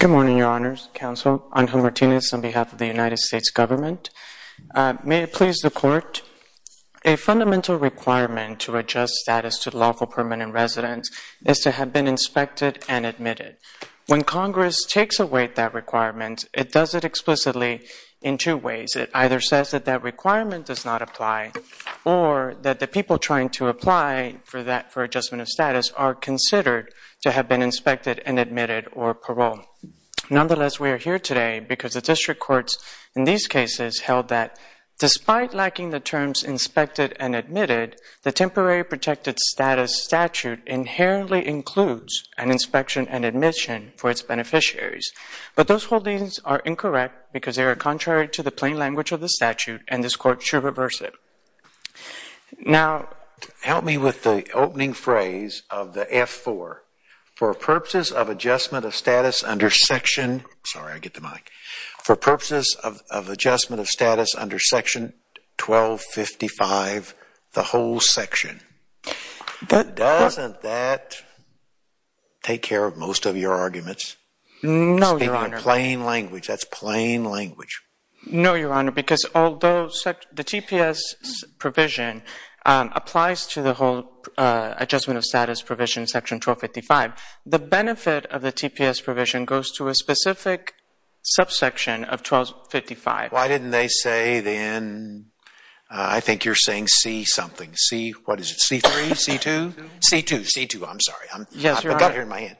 Good morning, Your Honors, Counsel, Angel Martinez on behalf of the United States Government. May it please the Court, a fundamental requirement to adjust status to lawful permanent residence is to have been inspected and admitted. When Congress takes away that requirement, it does it explicitly in two ways. It either says that that requirement does not apply or that the people trying to apply for adjustment of status are considered to have been inspected and admitted or paroled. Nonetheless, we are here today because the district courts in these cases held that despite lacking the terms inspected and admitted, the Temporary Protected Status statute inherently includes an inspection and admission for its beneficiaries. But those holdings are incorrect because they are contrary to the plain language of the statute and this Court should reverse it. Now, help me with the opening phrase of the F-4, for purposes of adjustment of status under section, sorry I get the mic, for purposes of adjustment of status under section 1255, the whole section, doesn't that take care of most of your arguments? No, Your Honor. Speaking in plain language, that's plain language. No, Your Honor, because although the TPS provision applies to the whole adjustment of status provision in section 1255, the benefit of the TPS provision goes to a specific subsection of 1255. Why didn't they say then, I think you're saying C something, C, what is it, C3, C2? C2, C2, I'm sorry. Yes, Your Honor. I've got it here in my hand.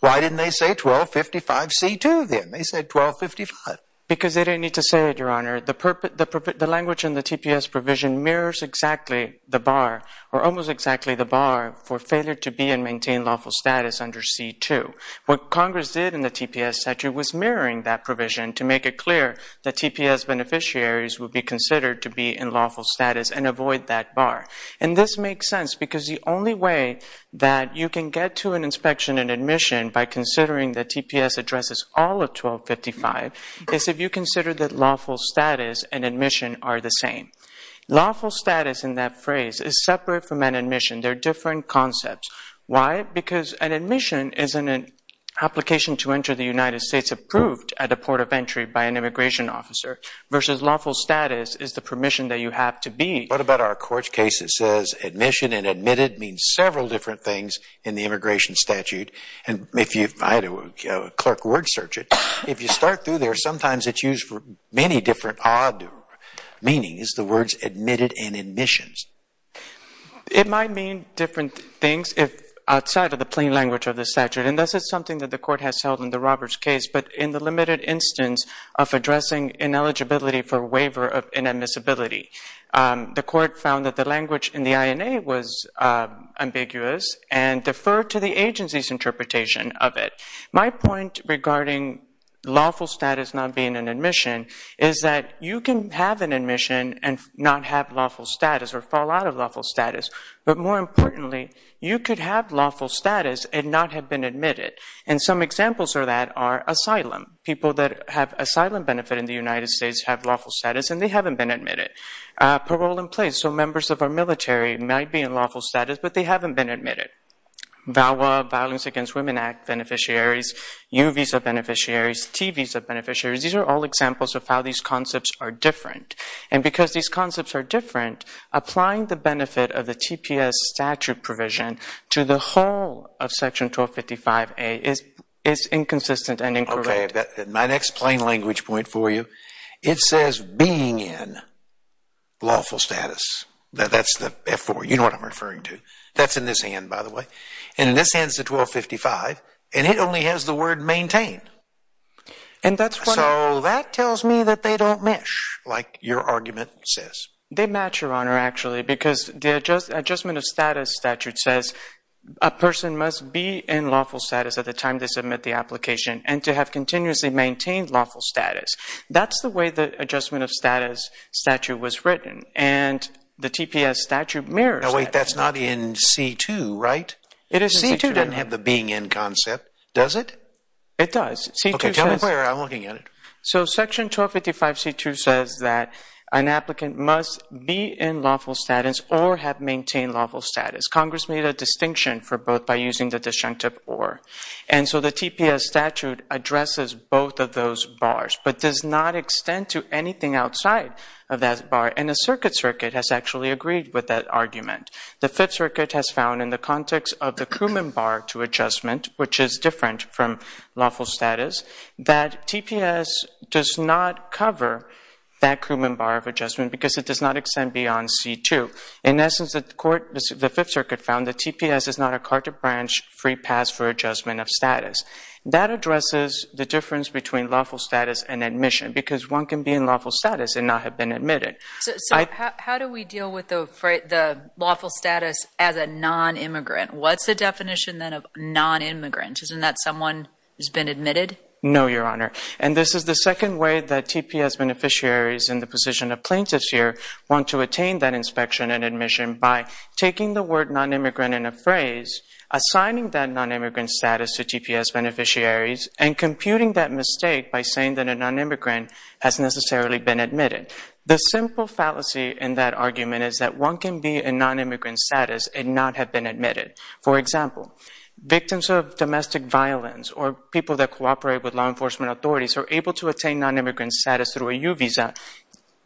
Why didn't they say 1255 C2 then? They said 1255. Because they didn't need to say it, Your Honor. The language in the TPS provision mirrors exactly the bar, or almost exactly the bar for failure to be and maintain lawful status under C2. What Congress did in the TPS statute was mirroring that provision to make it clear that TPS beneficiaries would be considered to be in lawful status and avoid that bar. And this makes sense because the only way that you can get to an inspection and admission by considering that TPS addresses all of 1255 is if you consider that lawful status and admission are the same. Lawful status in that phrase is separate from an admission. They're different concepts. Why? Because an admission is an application to enter the United States approved at the port of entry by an immigration officer versus lawful status is the permission that you have to be. What about our court's case that says admission and admitted means several different things in the immigration statute? And if you, I had a clerk word search it, if you start through there, sometimes it's used for many different odd meanings, the words admitted and admissions. It might mean different things if, outside of the plain language of the statute, and this is something that the court has held in the Roberts case, but in the limited instance of addressing ineligibility for waiver of inadmissibility, the court found that the defer to the agency's interpretation of it. My point regarding lawful status not being an admission is that you can have an admission and not have lawful status or fall out of lawful status, but more importantly, you could have lawful status and not have been admitted. And some examples of that are asylum. People that have asylum benefit in the United States have lawful status and they haven't been admitted. Parole in place, so members of our military might be in lawful status, but they haven't been admitted. VAWA, Violence Against Women Act beneficiaries, U visa beneficiaries, T visa beneficiaries, these are all examples of how these concepts are different. And because these concepts are different, applying the benefit of the TPS statute provision to the whole of Section 1255A is inconsistent and incorrect. Okay, my next plain language point for you, it says being in lawful status. That's the F4, you know what I'm referring to. That's in this hand, by the way. And in this hand is the 1255, and it only has the word maintain. And that's what... So that tells me that they don't mesh, like your argument says. They match, Your Honor, actually, because the Adjustment of Status statute says a person must be in lawful status at the time they submit the application and to have continuously maintained lawful status. That's the way the Adjustment of Status statute was written. And the TPS statute mirrors that. Now wait, that's not in C2, right? It is C2, Your Honor. C2 doesn't have the being in concept, does it? It does. Okay, tell me where. I'm looking at it. So Section 1255C2 says that an applicant must be in lawful status or have maintained lawful status. Congress made a distinction for both by using the disjunctive or. And so the TPS statute addresses both of those bars but does not extend to anything outside of that bar. And the Circuit Circuit has actually agreed with that argument. The Fifth Circuit has found in the context of the Crewman Bar to Adjustment, which is different from lawful status, that TPS does not cover that Crewman Bar of Adjustment because it does not extend beyond C2. In essence, the Fifth Circuit found that TPS is not a Carter Branch free pass for Adjustment of Status. That addresses the difference between lawful status and admission because one can be in lawful status and not have been admitted. So how do we deal with the lawful status as a non-immigrant? What's the definition then of non-immigrant? Isn't that someone who's been admitted? No, Your Honor. And this is the second way that TPS beneficiaries in the position of plaintiffs here want to attain that inspection and admission by taking the word non-immigrant in a phrase, assigning that non-immigrant status to TPS beneficiaries, and computing that mistake by saying that a non-immigrant has necessarily been admitted. The simple fallacy in that argument is that one can be in non-immigrant status and not have been admitted. For example, victims of domestic violence or people that cooperate with law enforcement authorities are able to attain non-immigrant status through a U visa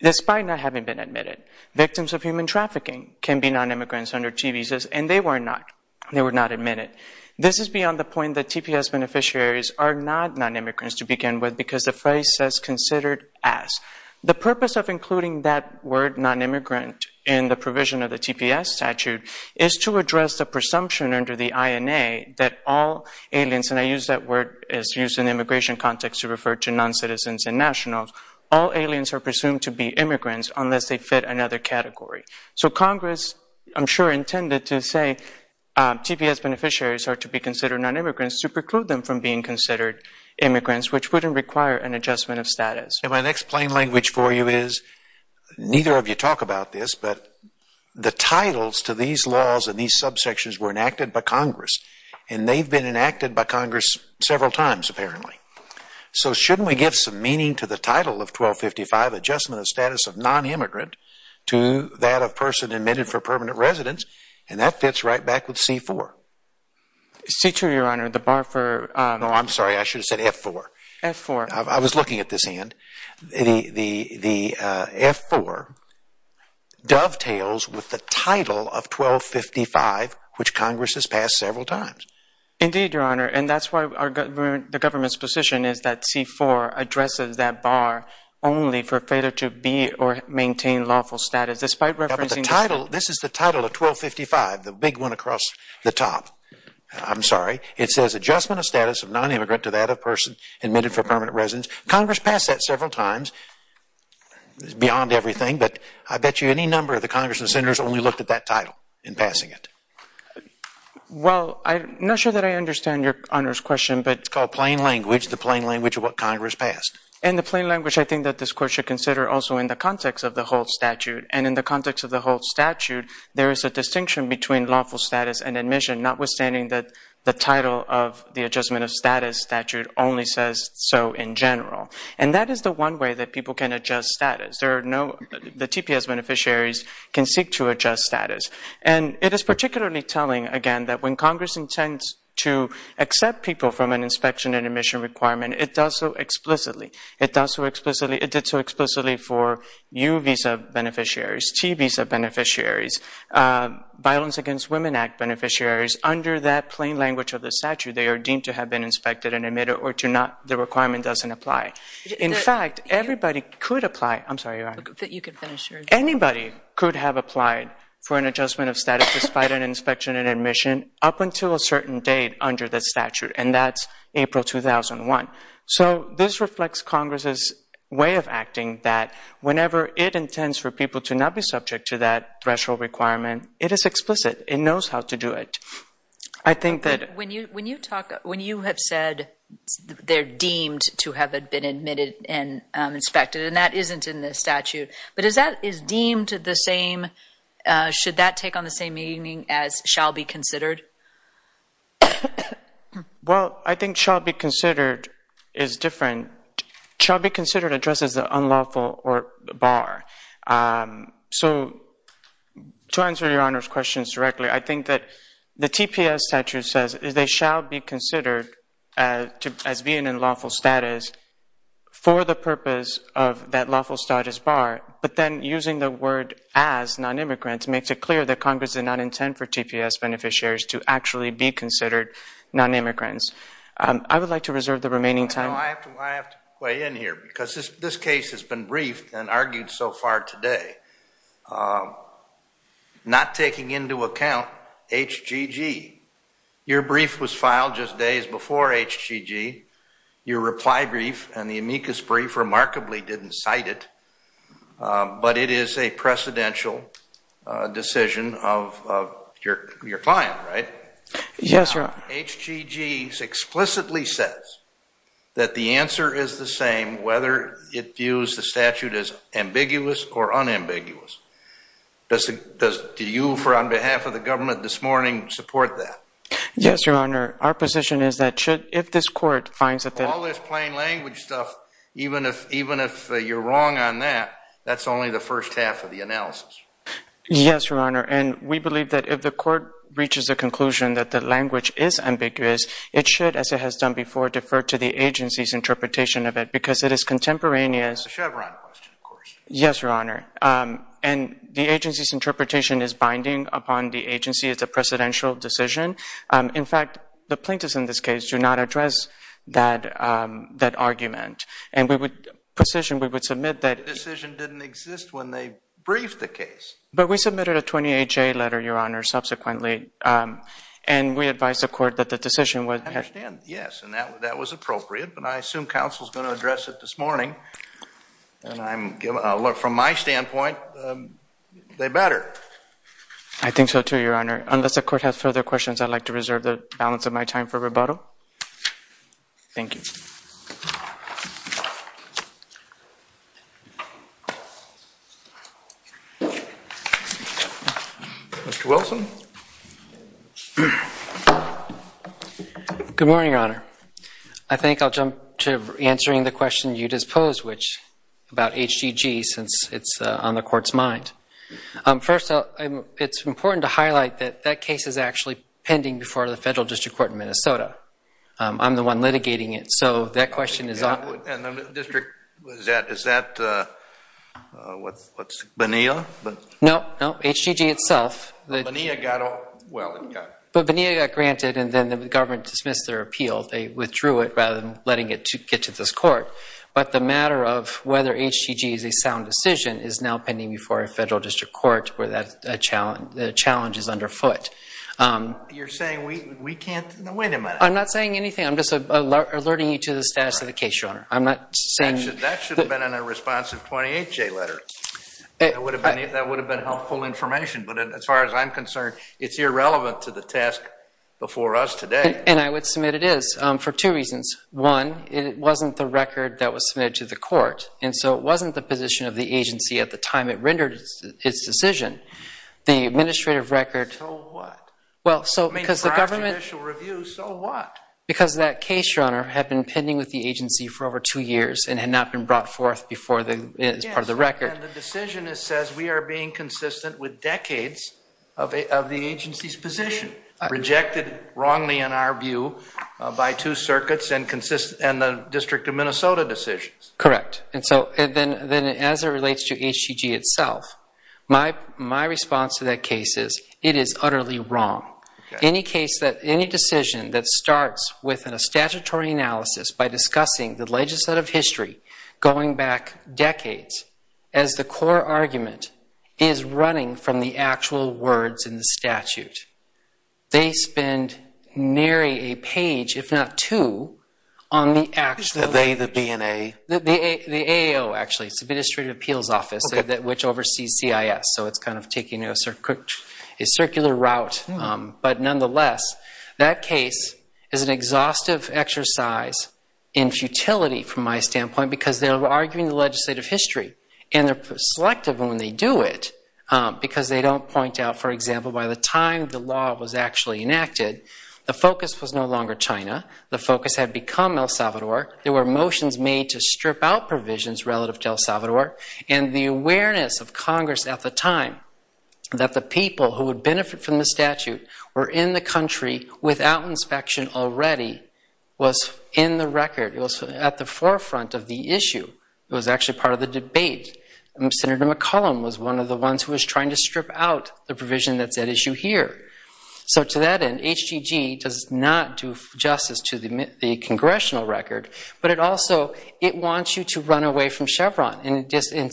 despite not having been admitted. Victims of human trafficking can be non-immigrants under T visas and they were not. They were not admitted. This is beyond the point that TPS beneficiaries are not non-immigrants to begin with because the phrase says considered as. The purpose of including that word non-immigrant in the provision of the TPS statute is to address the presumption under the INA that all aliens, and I use that word, it's used in immigration context to refer to non-citizens and nationals, all aliens are presumed to be immigrants unless they fit another category. So Congress, I'm sure, intended to say TPS beneficiaries are to be considered non-immigrants to preclude them from being considered immigrants, which wouldn't require an adjustment of status. And my next plain language for you is, neither of you talk about this, but the titles to these laws and these subsections were enacted by Congress and they've been enacted by Congress several times apparently. So shouldn't we give some meaning to the title of 1255, adjustment of status of non-immigrant to that of person admitted for permanent residence, and that fits right back with C-4. C-2, Your Honor, the bar for... No, I'm sorry, I should have said F-4. F-4. F-4. I was looking at this hand. The F-4 dovetails with the title of 1255, which Congress has passed several times. Indeed, Your Honor, and that's why the government's position is that C-4 addresses that bar only for failure to be or maintain lawful status, despite referencing... This is the title of 1255, the big one across the top. I'm sorry, it says adjustment of status of non-immigrant to that of person admitted for permanent residence. Congress passed that several times. It's beyond everything, but I bet you any number of the Congress and Senators only looked at that title in passing it. Well, I'm not sure that I understand Your Honor's question, but... It's called plain language, the plain language of what Congress passed. And the plain language, I think, that this Court should consider also in the context of the Holt Statute, and in the context of the Holt Statute, there is a distinction between says so in general. And that is the one way that people can adjust status. There are no... The TPS beneficiaries can seek to adjust status. And it is particularly telling, again, that when Congress intends to accept people from an inspection and admission requirement, it does so explicitly. It does so explicitly... It did so explicitly for U-Visa beneficiaries, T-Visa beneficiaries, Violence Against Women Act beneficiaries. Under that plain language of the statute, they are deemed to have been inspected and admitted or to not... The requirement doesn't apply. In fact, everybody could apply... I'm sorry, Your Honor. That you could finish your... Anybody could have applied for an adjustment of status despite an inspection and admission up until a certain date under the statute, and that's April 2001. So this reflects Congress's way of acting that whenever it intends for people to not be subject to that threshold requirement, it is explicit. It knows how to do it. I think that... When you talk... When you have said they're deemed to have been admitted and inspected, and that isn't in the statute, but is that... Is deemed the same... Should that take on the same meaning as shall be considered? Well, I think shall be considered is different. Shall be considered addresses the unlawful or the bar. So to answer Your Honor's questions directly, I think that the TPS statute says they shall be considered as being in lawful status for the purpose of that lawful status bar, but then using the word as non-immigrants makes it clear that Congress did not intend for TPS beneficiaries to actually be considered non-immigrants. I would like to reserve the remaining time. I have to weigh in here because this case has been briefed and argued so far today, not taking into account HGG. Your brief was filed just days before HGG. Your reply brief and the amicus brief remarkably didn't cite it, but it is a precedential decision Yes, Your Honor. HGG explicitly says that the answer is the same whether it views the statute as ambiguous or unambiguous. Do you, on behalf of the government this morning, support that? Yes, Your Honor. Our position is that if this court finds that... All this plain language stuff, even if you're wrong on that, that's only the first half of the analysis. Yes, Your Honor. We believe that if the court reaches the conclusion that the language is ambiguous, it should, as it has done before, defer to the agency's interpretation of it because it is contemporaneous. It's a Chevron question, of course. Yes, Your Honor. The agency's interpretation is binding upon the agency. It's a precedential decision. In fact, the plaintiffs in this case do not address that argument. And we would position, we would submit that... The decision didn't exist when they briefed the case. But we submitted a 28-J letter, Your Honor, subsequently, and we advised the court that the decision was... I understand. Yes. And that was appropriate. But I assume counsel's going to address it this morning, and I'm... From my standpoint, they better. I think so, too, Your Honor. Unless the court has further questions, I'd like to reserve the balance of my time for rebuttal. Thank you. Mr. Wilson? Good morning, Your Honor. I think I'll jump to answering the question you just posed, which, about HGG, since it's on the court's mind. First off, it's important to highlight that that case is actually pending before the federal district court in Minnesota. I'm the one litigating it. So that question is... Yeah, and the district, is that, what's, Bonilla? No. No. HGG itself. Bonilla got... Well, yeah. But Bonilla got granted, and then the government dismissed their appeal. They withdrew it rather than letting it get to this court. But the matter of whether HGG is a sound decision is now pending before a federal district court where the challenge is underfoot. You're saying we can't... Now, wait a minute. I'm not saying anything. I'm just alerting you to the status of the case, Your Honor. I'm not saying... That should have been in a responsive 28-J letter. That would have been helpful information. But as far as I'm concerned, it's irrelevant to the task before us today. And I would submit it is for two reasons. One, it wasn't the record that was submitted to the court. And so it wasn't the position of the agency at the time it rendered its decision. The administrative record... So what? Well, so because the government... I mean, for our judicial review, so what? Because that case, Your Honor, had been pending with the agency for over two years and had not been brought forth as part of the record. And the decision says we are being consistent with decades of the agency's position, rejected wrongly in our view by two circuits and the District of Minnesota decisions. Correct. And so then as it relates to HGG itself, my response to that case is it is utterly wrong. Any case that... by discussing the legislative history going back decades as the core argument is running from the actual words in the statute. They spend nearly a page, if not two, on the actual... Is the they the B and A? The AO, actually. It's the Administrative Appeals Office, which oversees CIS. So it's kind of taking a circular route. But nonetheless, that case is an exhaustive exercise in futility from my standpoint, because they're arguing the legislative history, and they're selective when they do it, because they don't point out, for example, by the time the law was actually enacted, the focus was no longer China. The focus had become El Salvador. There were motions made to strip out provisions relative to El Salvador, and the awareness of Congress at the time that the people who would benefit from the statute were in the country without inspection already was in the record. It was at the forefront of the issue. It was actually part of the debate. Senator McCollum was one of the ones who was trying to strip out the provision that's at issue here. So to that end, HGG does not do justice to the congressional record, but it also... and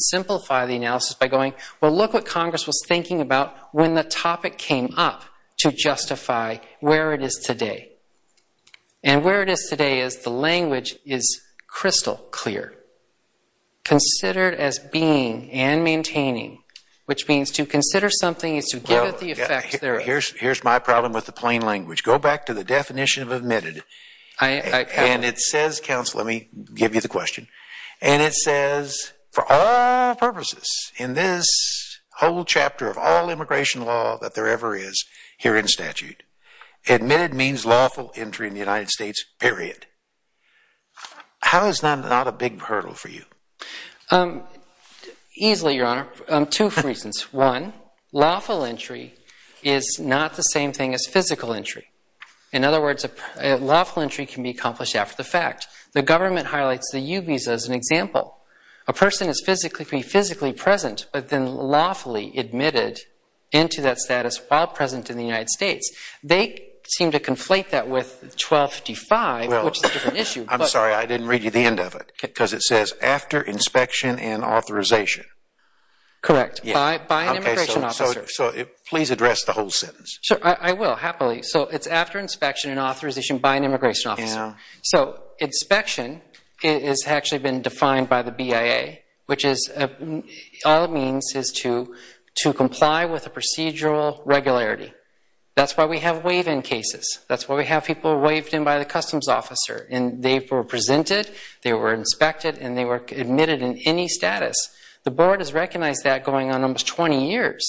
simplify the analysis by going, well, look what Congress was thinking about when the topic came up to justify where it is today. And where it is today is the language is crystal clear. Considered as being and maintaining, which means to consider something is to give it the effect... Here's my problem with the plain language. Go back to the definition of admitted, and it says, counsel, let me give you the question. And it says, for all purposes in this whole chapter of all immigration law that there ever is here in statute, admitted means lawful entry in the United States, period. How is that not a big hurdle for you? Easily, Your Honor, two reasons. One, lawful entry is not the same thing as physical entry. In other words, lawful entry can be accomplished after the fact. The government highlights the U visa as an example. A person is physically present, but then lawfully admitted into that status while present in the United States. They seem to conflate that with 1255, which is a different issue. I'm sorry, I didn't read you the end of it, because it says, after inspection and authorization. Correct, by an immigration officer. So please address the whole sentence. Sure, I will, happily. So it's after inspection and authorization by an immigration officer. So inspection has actually been defined by the BIA, which is all it means is to comply with a procedural regularity. That's why we have waive-in cases. That's why we have people waived in by the customs officer, and they were presented, they were inspected, and they were admitted in any status. The board has recognized that going on almost 20 years,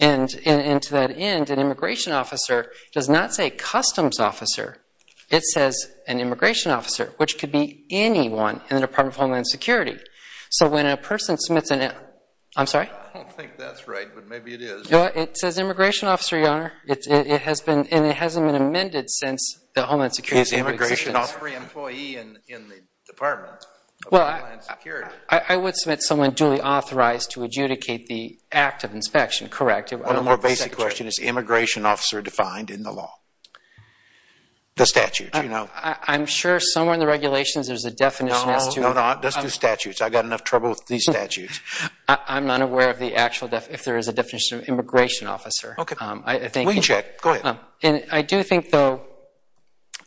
and to that end, an immigration officer does not say customs officer. It says an immigration officer, which could be anyone in the Department of Homeland Security. So when a person submits an, I'm sorry? I don't think that's right, but maybe it is. It says immigration officer, Your Honor. It has been, and it hasn't been amended since the Homeland Security. Is immigration offering employee in the Department of Homeland Security? I would submit someone duly authorized to adjudicate the act of inspection, correct? One more basic question. Is immigration officer defined in the law? The statute, you know? I'm sure somewhere in the regulations there's a definition as to... No, no, no. Just the statutes. I've got enough trouble with these statutes. I'm not aware of the actual, if there is a definition of immigration officer. Okay. We can check. Go ahead. I do think, though,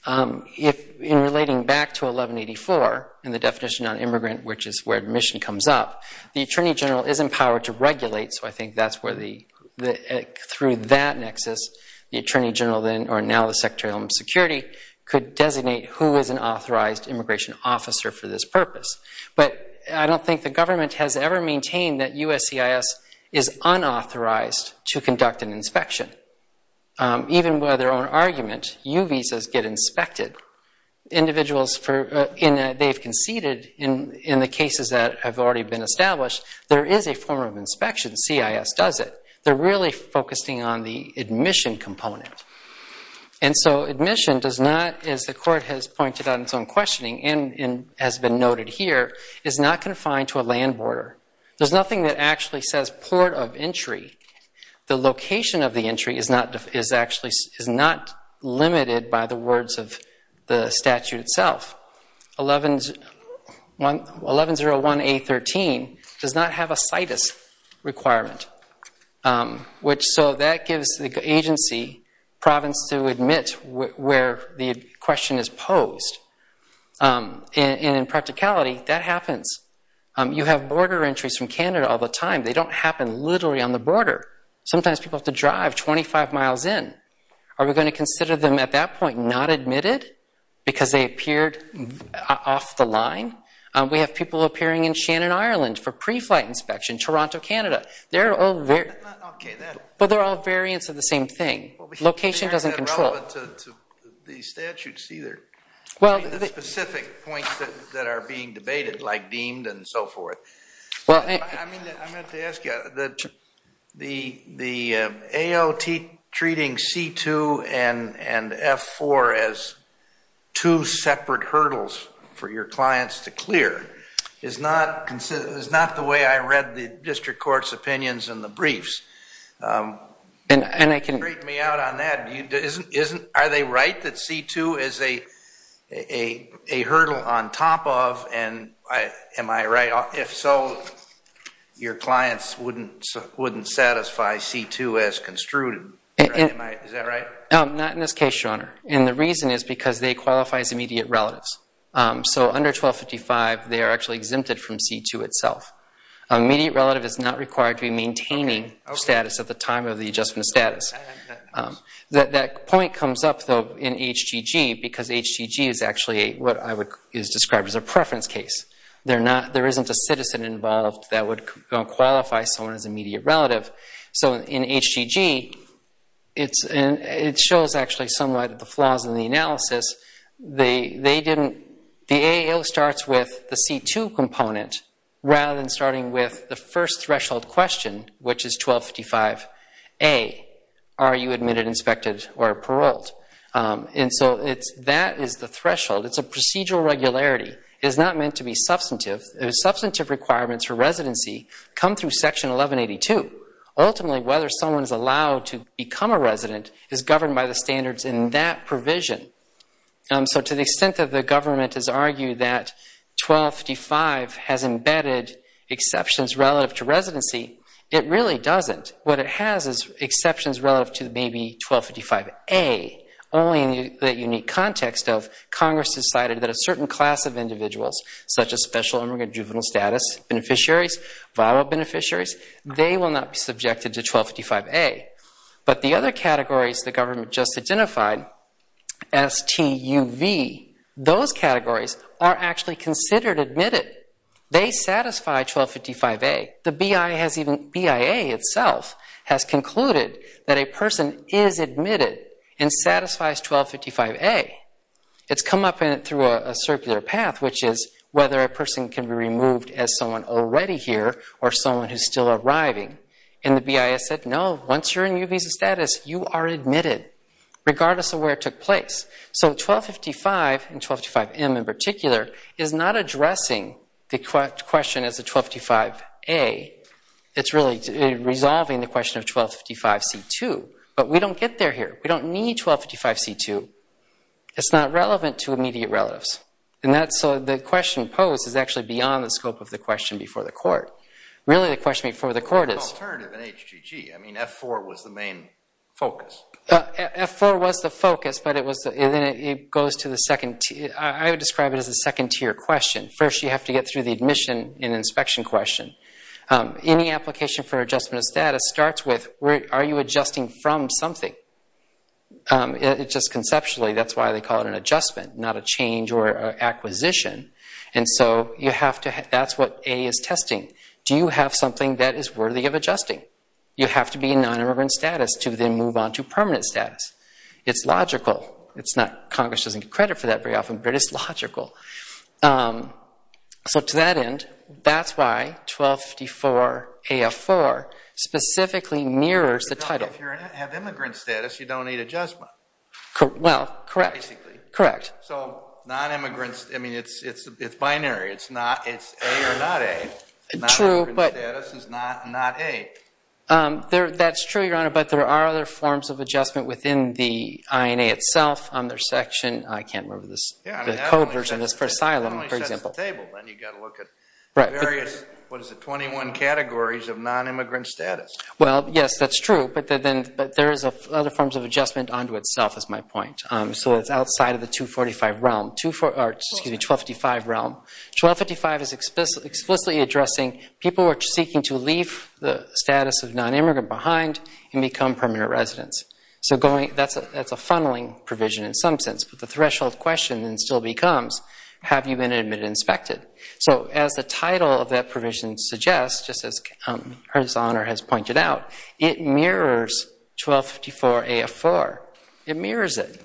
in relating back to 1184 and the definition on immigrant, which is where admission comes up, the Attorney General is empowered to regulate, so I think that's where the... Through that nexus, the Attorney General then, or now the Secretary of Homeland Security, could designate who is an authorized immigration officer for this purpose. But I don't think the government has ever maintained that USCIS is unauthorized to conduct an inspection. Even by their own argument, U visas get inspected. Individuals for... And they've conceded in the cases that have already been established, there is a form of inspection. CIS does it. They're really focusing on the admission component. And so admission does not, as the court has pointed out in its own questioning and has been noted here, is not confined to a land border. There's nothing that actually says port of entry. The location of the entry is not limited by the words of the statute itself. 1101A13 does not have a CIS requirement, which... So that gives the agency, province to admit where the question is posed, and in practicality that happens. You have border entries from Canada all the time. They don't happen literally on the border. Sometimes people have to drive 25 miles in. Are we going to consider them at that point not admitted because they appeared off the line? We have people appearing in Shannon, Ireland for pre-flight inspection, Toronto, Canada. They're all... Okay, that... But they're all variants of the same thing. Location doesn't control... It's not relevant to the statutes either, the specific points that are being debated like deemed and so forth. I meant to ask you, the AOT treating C2 and F4 as two separate hurdles for your clients to clear is not the way I read the district court's opinions in the briefs. And they can rate me out on that, are they right that C2 is a hurdle on top of, and am I right? If so, your clients wouldn't satisfy C2 as construed, is that right? Not in this case, Your Honor. And the reason is because they qualify as immediate relatives. So under 1255, they are actually exempted from C2 itself. Immediate relative is not required to be maintaining status at the time of the adjustment status. That point comes up though in HGG because HGG is actually what I would describe as a preference case. There isn't a citizen involved that would qualify someone as an immediate relative. So in HGG, it shows actually somewhat the flaws in the analysis. The AAO starts with the C2 component rather than starting with the first threshold question, which is 1255A, are you admitted, inspected, or paroled? And so that is the threshold. It's a procedural regularity. It is not meant to be substantive. The substantive requirements for residency come through Section 1182. Ultimately, whether someone is allowed to become a resident is governed by the standards in that provision. So to the extent that the government has argued that 1255 has embedded exceptions relative to residency, it really doesn't. What it has is exceptions relative to maybe 1255A, only in the unique context of Congress decided that a certain class of individuals, such as special immigrant juvenile status beneficiaries, viral beneficiaries, they will not be subjected to 1255A. But the other categories the government just identified, STUV, those categories are actually considered admitted. They satisfy 1255A. The BIA itself has concluded that a person is admitted and satisfies 1255A. It's come up through a circular path, which is whether a person can be removed as someone already here or someone who's still arriving. And the BIA said, no, once you're a new visa status, you are admitted, regardless of where it took place. So 1255, and 1255M in particular, is not addressing the question as a 1255A. It's really resolving the question of 1255C2. But we don't get there here. We don't need 1255C2. It's not relevant to immediate relatives. And that's so the question posed is actually beyond the scope of the question before the court. Really, the question before the court is— An alternative in HGG. I mean, F4 was the main focus. F4 was the focus, but it was—and then it goes to the second—I would describe it as a second tier question. First you have to get through the admission and inspection question. Any application for adjustment of status starts with, are you adjusting from something? Just conceptually, that's why they call it an adjustment, not a change or acquisition. And so you have to—that's what A is testing. Do you have something that is worthy of adjusting? You have to be in non-immigrant status to then move on to permanent status. It's logical. It's not—Congress doesn't get credit for that very often, but it's logical. So to that end, that's why 1254-AF4 specifically mirrors the title. If you have immigrant status, you don't need adjustment. Well, correct. Basically. Correct. So non-immigrant—I mean, it's binary. It's A or not A. True, but— Non-immigrant status is not A. That's true, Your Honor, but there are other forms of adjustment within the INA itself on their section. I can't remember the code version. It's for asylum, for example. It only sets the table, then. You've got to look at various—what is it—21 categories of non-immigrant status. Well, yes, that's true, but there is other forms of adjustment onto itself, is my point. So it's outside of the 245 realm—or, excuse me, 1255 realm. 1255 is explicitly addressing people who are seeking to leave the status of non-immigrant behind and become permanent residents. So that's a funneling provision in some sense, but the threshold question still becomes, have you been admitted and inspected? So as the title of that provision suggests, just as Her Honor has pointed out, it mirrors 1254 AF-4. It mirrors it.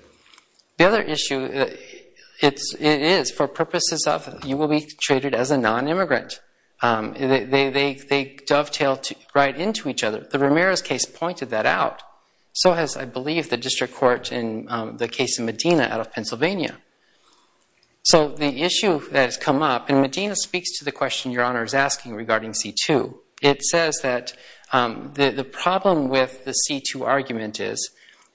The other issue, it is for purposes of you will be treated as a non-immigrant. They dovetail right into each other. The Ramirez case pointed that out. So has, I believe, the district court in the case of Medina out of Pennsylvania. So the issue that has come up—and Medina speaks to the question Your Honor is asking regarding C-2. It says that the problem with the C-2 argument is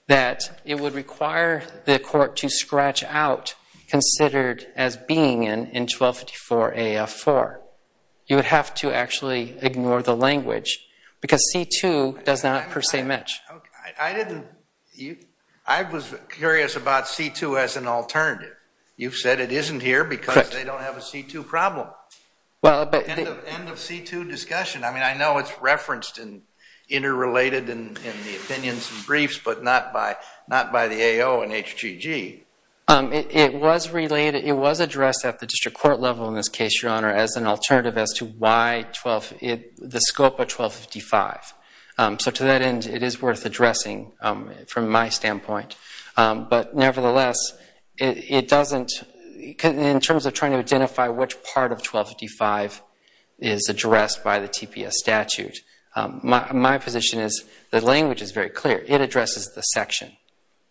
that it would require the court to scratch out considered as being in 1254 AF-4. You would have to actually ignore the language because C-2 does not per se match. I was curious about C-2 as an alternative. You've said it isn't here because they don't have a C-2 problem. End of C-2 discussion. I mean, I know it's referenced and interrelated in the opinions and briefs, but not by the AO and HGG. It was related—it was addressed at the district court level in this case, Your Honor, as an alternative as to why 12—the scope of 1255. So to that end, it is worth addressing from my standpoint. But nevertheless, it doesn't—in terms of trying to identify which part of 1255 is addressed by the TPS statute, my position is the language is very clear. It addresses the section.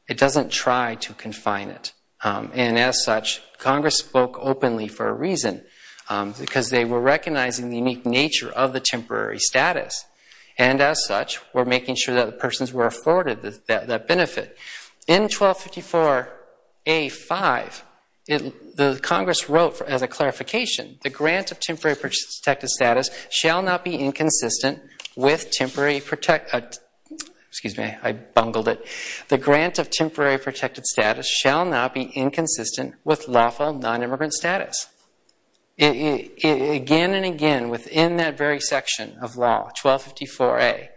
It doesn't try to confine it. And as such, Congress spoke openly for a reason because they were recognizing the unique nature of the temporary status and as such were making sure that the persons were afforded that benefit. In 1254 A-5, the Congress wrote as a clarification, the grant of temporary protective status shall not be inconsistent with temporary—excuse me, I bungled it—the grant of temporary protected status shall not be inconsistent with lawful nonimmigrant status. Again and again within that very section of law, 1254 A,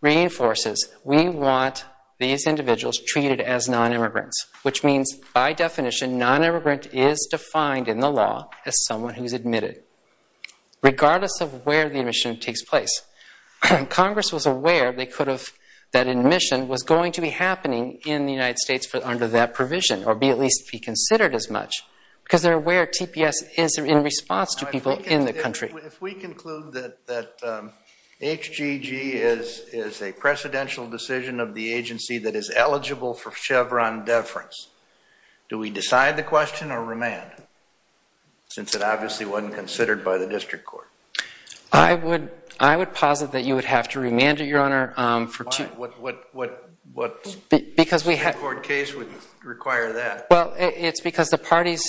reinforces we want these individuals treated as nonimmigrants, which means by definition, nonimmigrant is defined in the law as someone who's admitted. Regardless of where the admission takes place, Congress was aware they could have—that admission was going to be happening in the United States under that provision or be at least be considered as much because they're aware TPS is in response to people in the country. If we conclude that HGG is a precedential decision of the agency that is eligible for Chevron deference, do we decide the question or remand? Since it obviously wasn't considered by the district court. I would posit that you would have to remand it, Your Honor. Why? What district court case would require that? Well, it's because the parties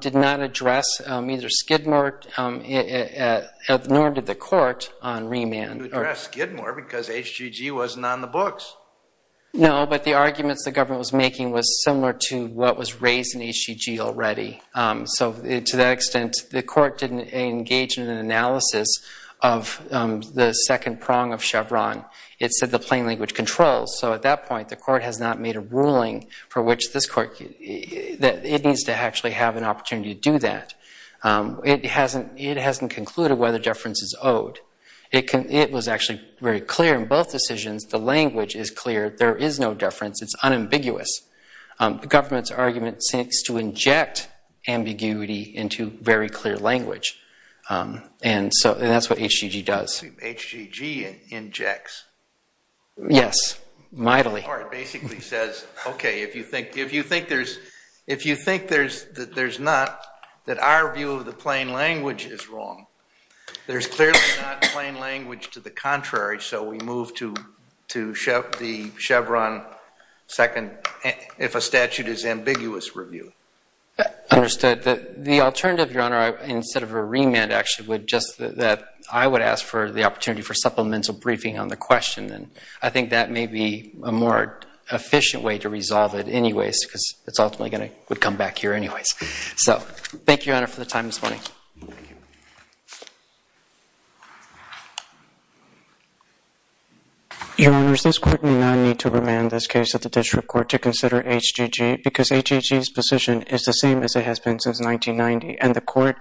did not address either Skidmore nor did the court on remand. You addressed Skidmore because HGG wasn't on the books. No, but the arguments the government was making was similar to what was raised in HGG already. So to that extent, the court didn't engage in an analysis of the second prong of Chevron. It said the plain language controls. So at that point, the court has not made a ruling for which this court—that it needs to actually have an opportunity to do that. It hasn't concluded whether deference is owed. It was actually very clear in both decisions. The language is clear. There is no deference. It's unambiguous. The government's argument seeks to inject ambiguity into very clear language. And that's what HGG does. HGG injects? Yes, mightily. The court basically says, okay, if you think there's—if you think that there's not—that our view of the plain language is wrong, there's clearly not plain language to the contrary. So we move to the Chevron second, if a statute is ambiguous, review. Understood. The alternative, Your Honor, instead of a remand, actually, would just—that I would ask for the opportunity for supplemental briefing on the question, and I think that may be a more efficient way to resolve it anyways, because it's ultimately going to come back here anyways. Your Honors, this Court may not need to remand this case at the district court to consider HGG, because HGG's position is the same as it has been since 1990, and the court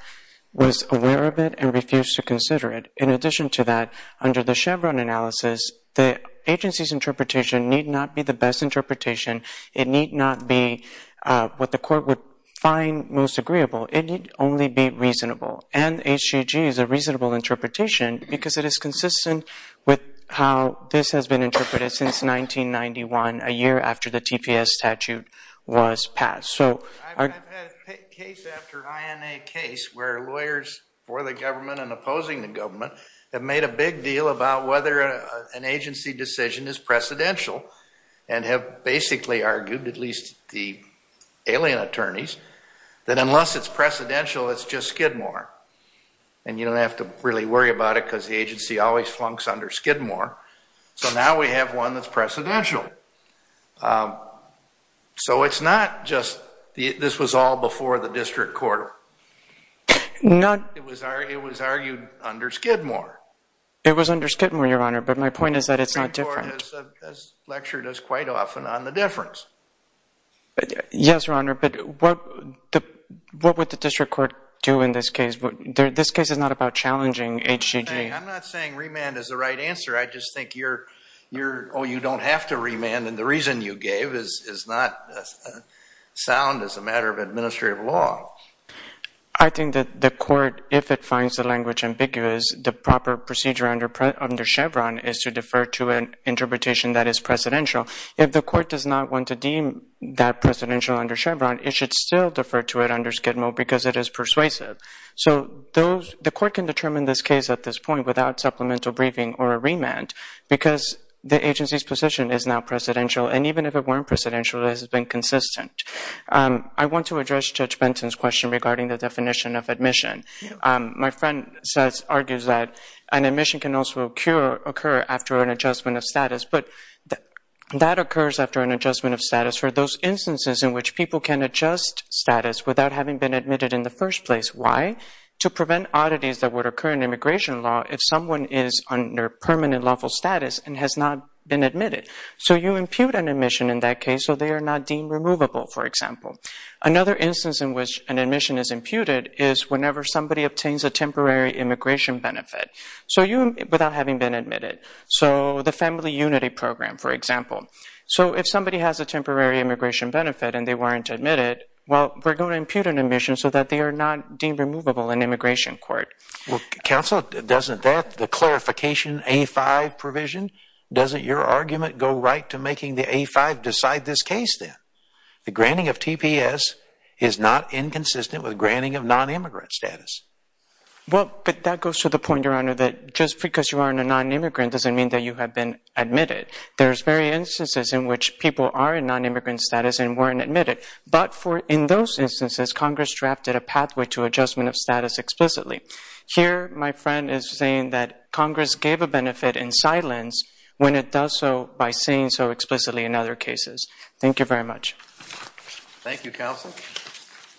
was aware of it and refused to consider it. In addition to that, under the Chevron analysis, the agency's interpretation need not be the best interpretation. It need not be what the court would find most agreeable. It need only be reasonable. And HGG is a reasonable interpretation because it is consistent with how this has been interpreted since 1991, a year after the TPS statute was passed. So— I've had case after INA case where lawyers for the government and opposing the government have made a big deal about whether an agency decision is precedential, and have basically argued, at least the alien attorneys, that unless it's precedential, it's just Skidmore. And you don't have to really worry about it, because the agency always flunks under Skidmore. So now we have one that's precedential. So it's not just—this was all before the district court. It was argued under Skidmore. It was under Skidmore, Your Honor, but my point is that it's not different. The district court has lectured us quite often on the difference. Yes, Your Honor, but what would the district court do in this case? This case is not about challenging HGG. I'm not saying remand is the right answer. I just think you're, oh, you don't have to remand, and the reason you gave is not sound as a matter of administrative law. I think that the court, if it finds the language ambiguous, the proper procedure under Chevron is to defer to an interpretation that is precedential. If the court does not want to deem that precedential under Chevron, it should still defer to it under Skidmore, because it is persuasive. So the court can determine this case at this point without supplemental briefing or a remand, because the agency's position is now precedential, and even if it weren't precedential, it has been consistent. I want to address Judge Benson's question regarding the definition of admission. My friend argues that an admission can also occur after an adjustment of status, but that occurs after an adjustment of status for those instances in which people can adjust status without having been admitted in the first place. Why? To prevent oddities that would occur in immigration law if someone is under permanent lawful status and has not been admitted. So you impute an admission in that case, so they are not deemed removable, for example. Another instance in which an admission is imputed is whenever somebody obtains a temporary immigration benefit, so without having been admitted. So the Family Unity Program, for example. So if somebody has a temporary immigration benefit and they weren't admitted, well, we're going to impute an admission so that they are not deemed removable in immigration court. Well, counsel, doesn't that, the clarification A-5 provision, doesn't your argument go right to making the A-5 decide this case then? The granting of TPS is not inconsistent with granting of non-immigrant status. Well, but that goes to the point, Your Honor, that just because you aren't a non-immigrant doesn't mean that you have been admitted. There's various instances in which people are in non-immigrant status and weren't admitted, but in those instances, Congress drafted a pathway to adjustment of status explicitly. Here, my friend is saying that Congress gave a benefit in silence when it does so by saying so explicitly in other cases. Thank you very much.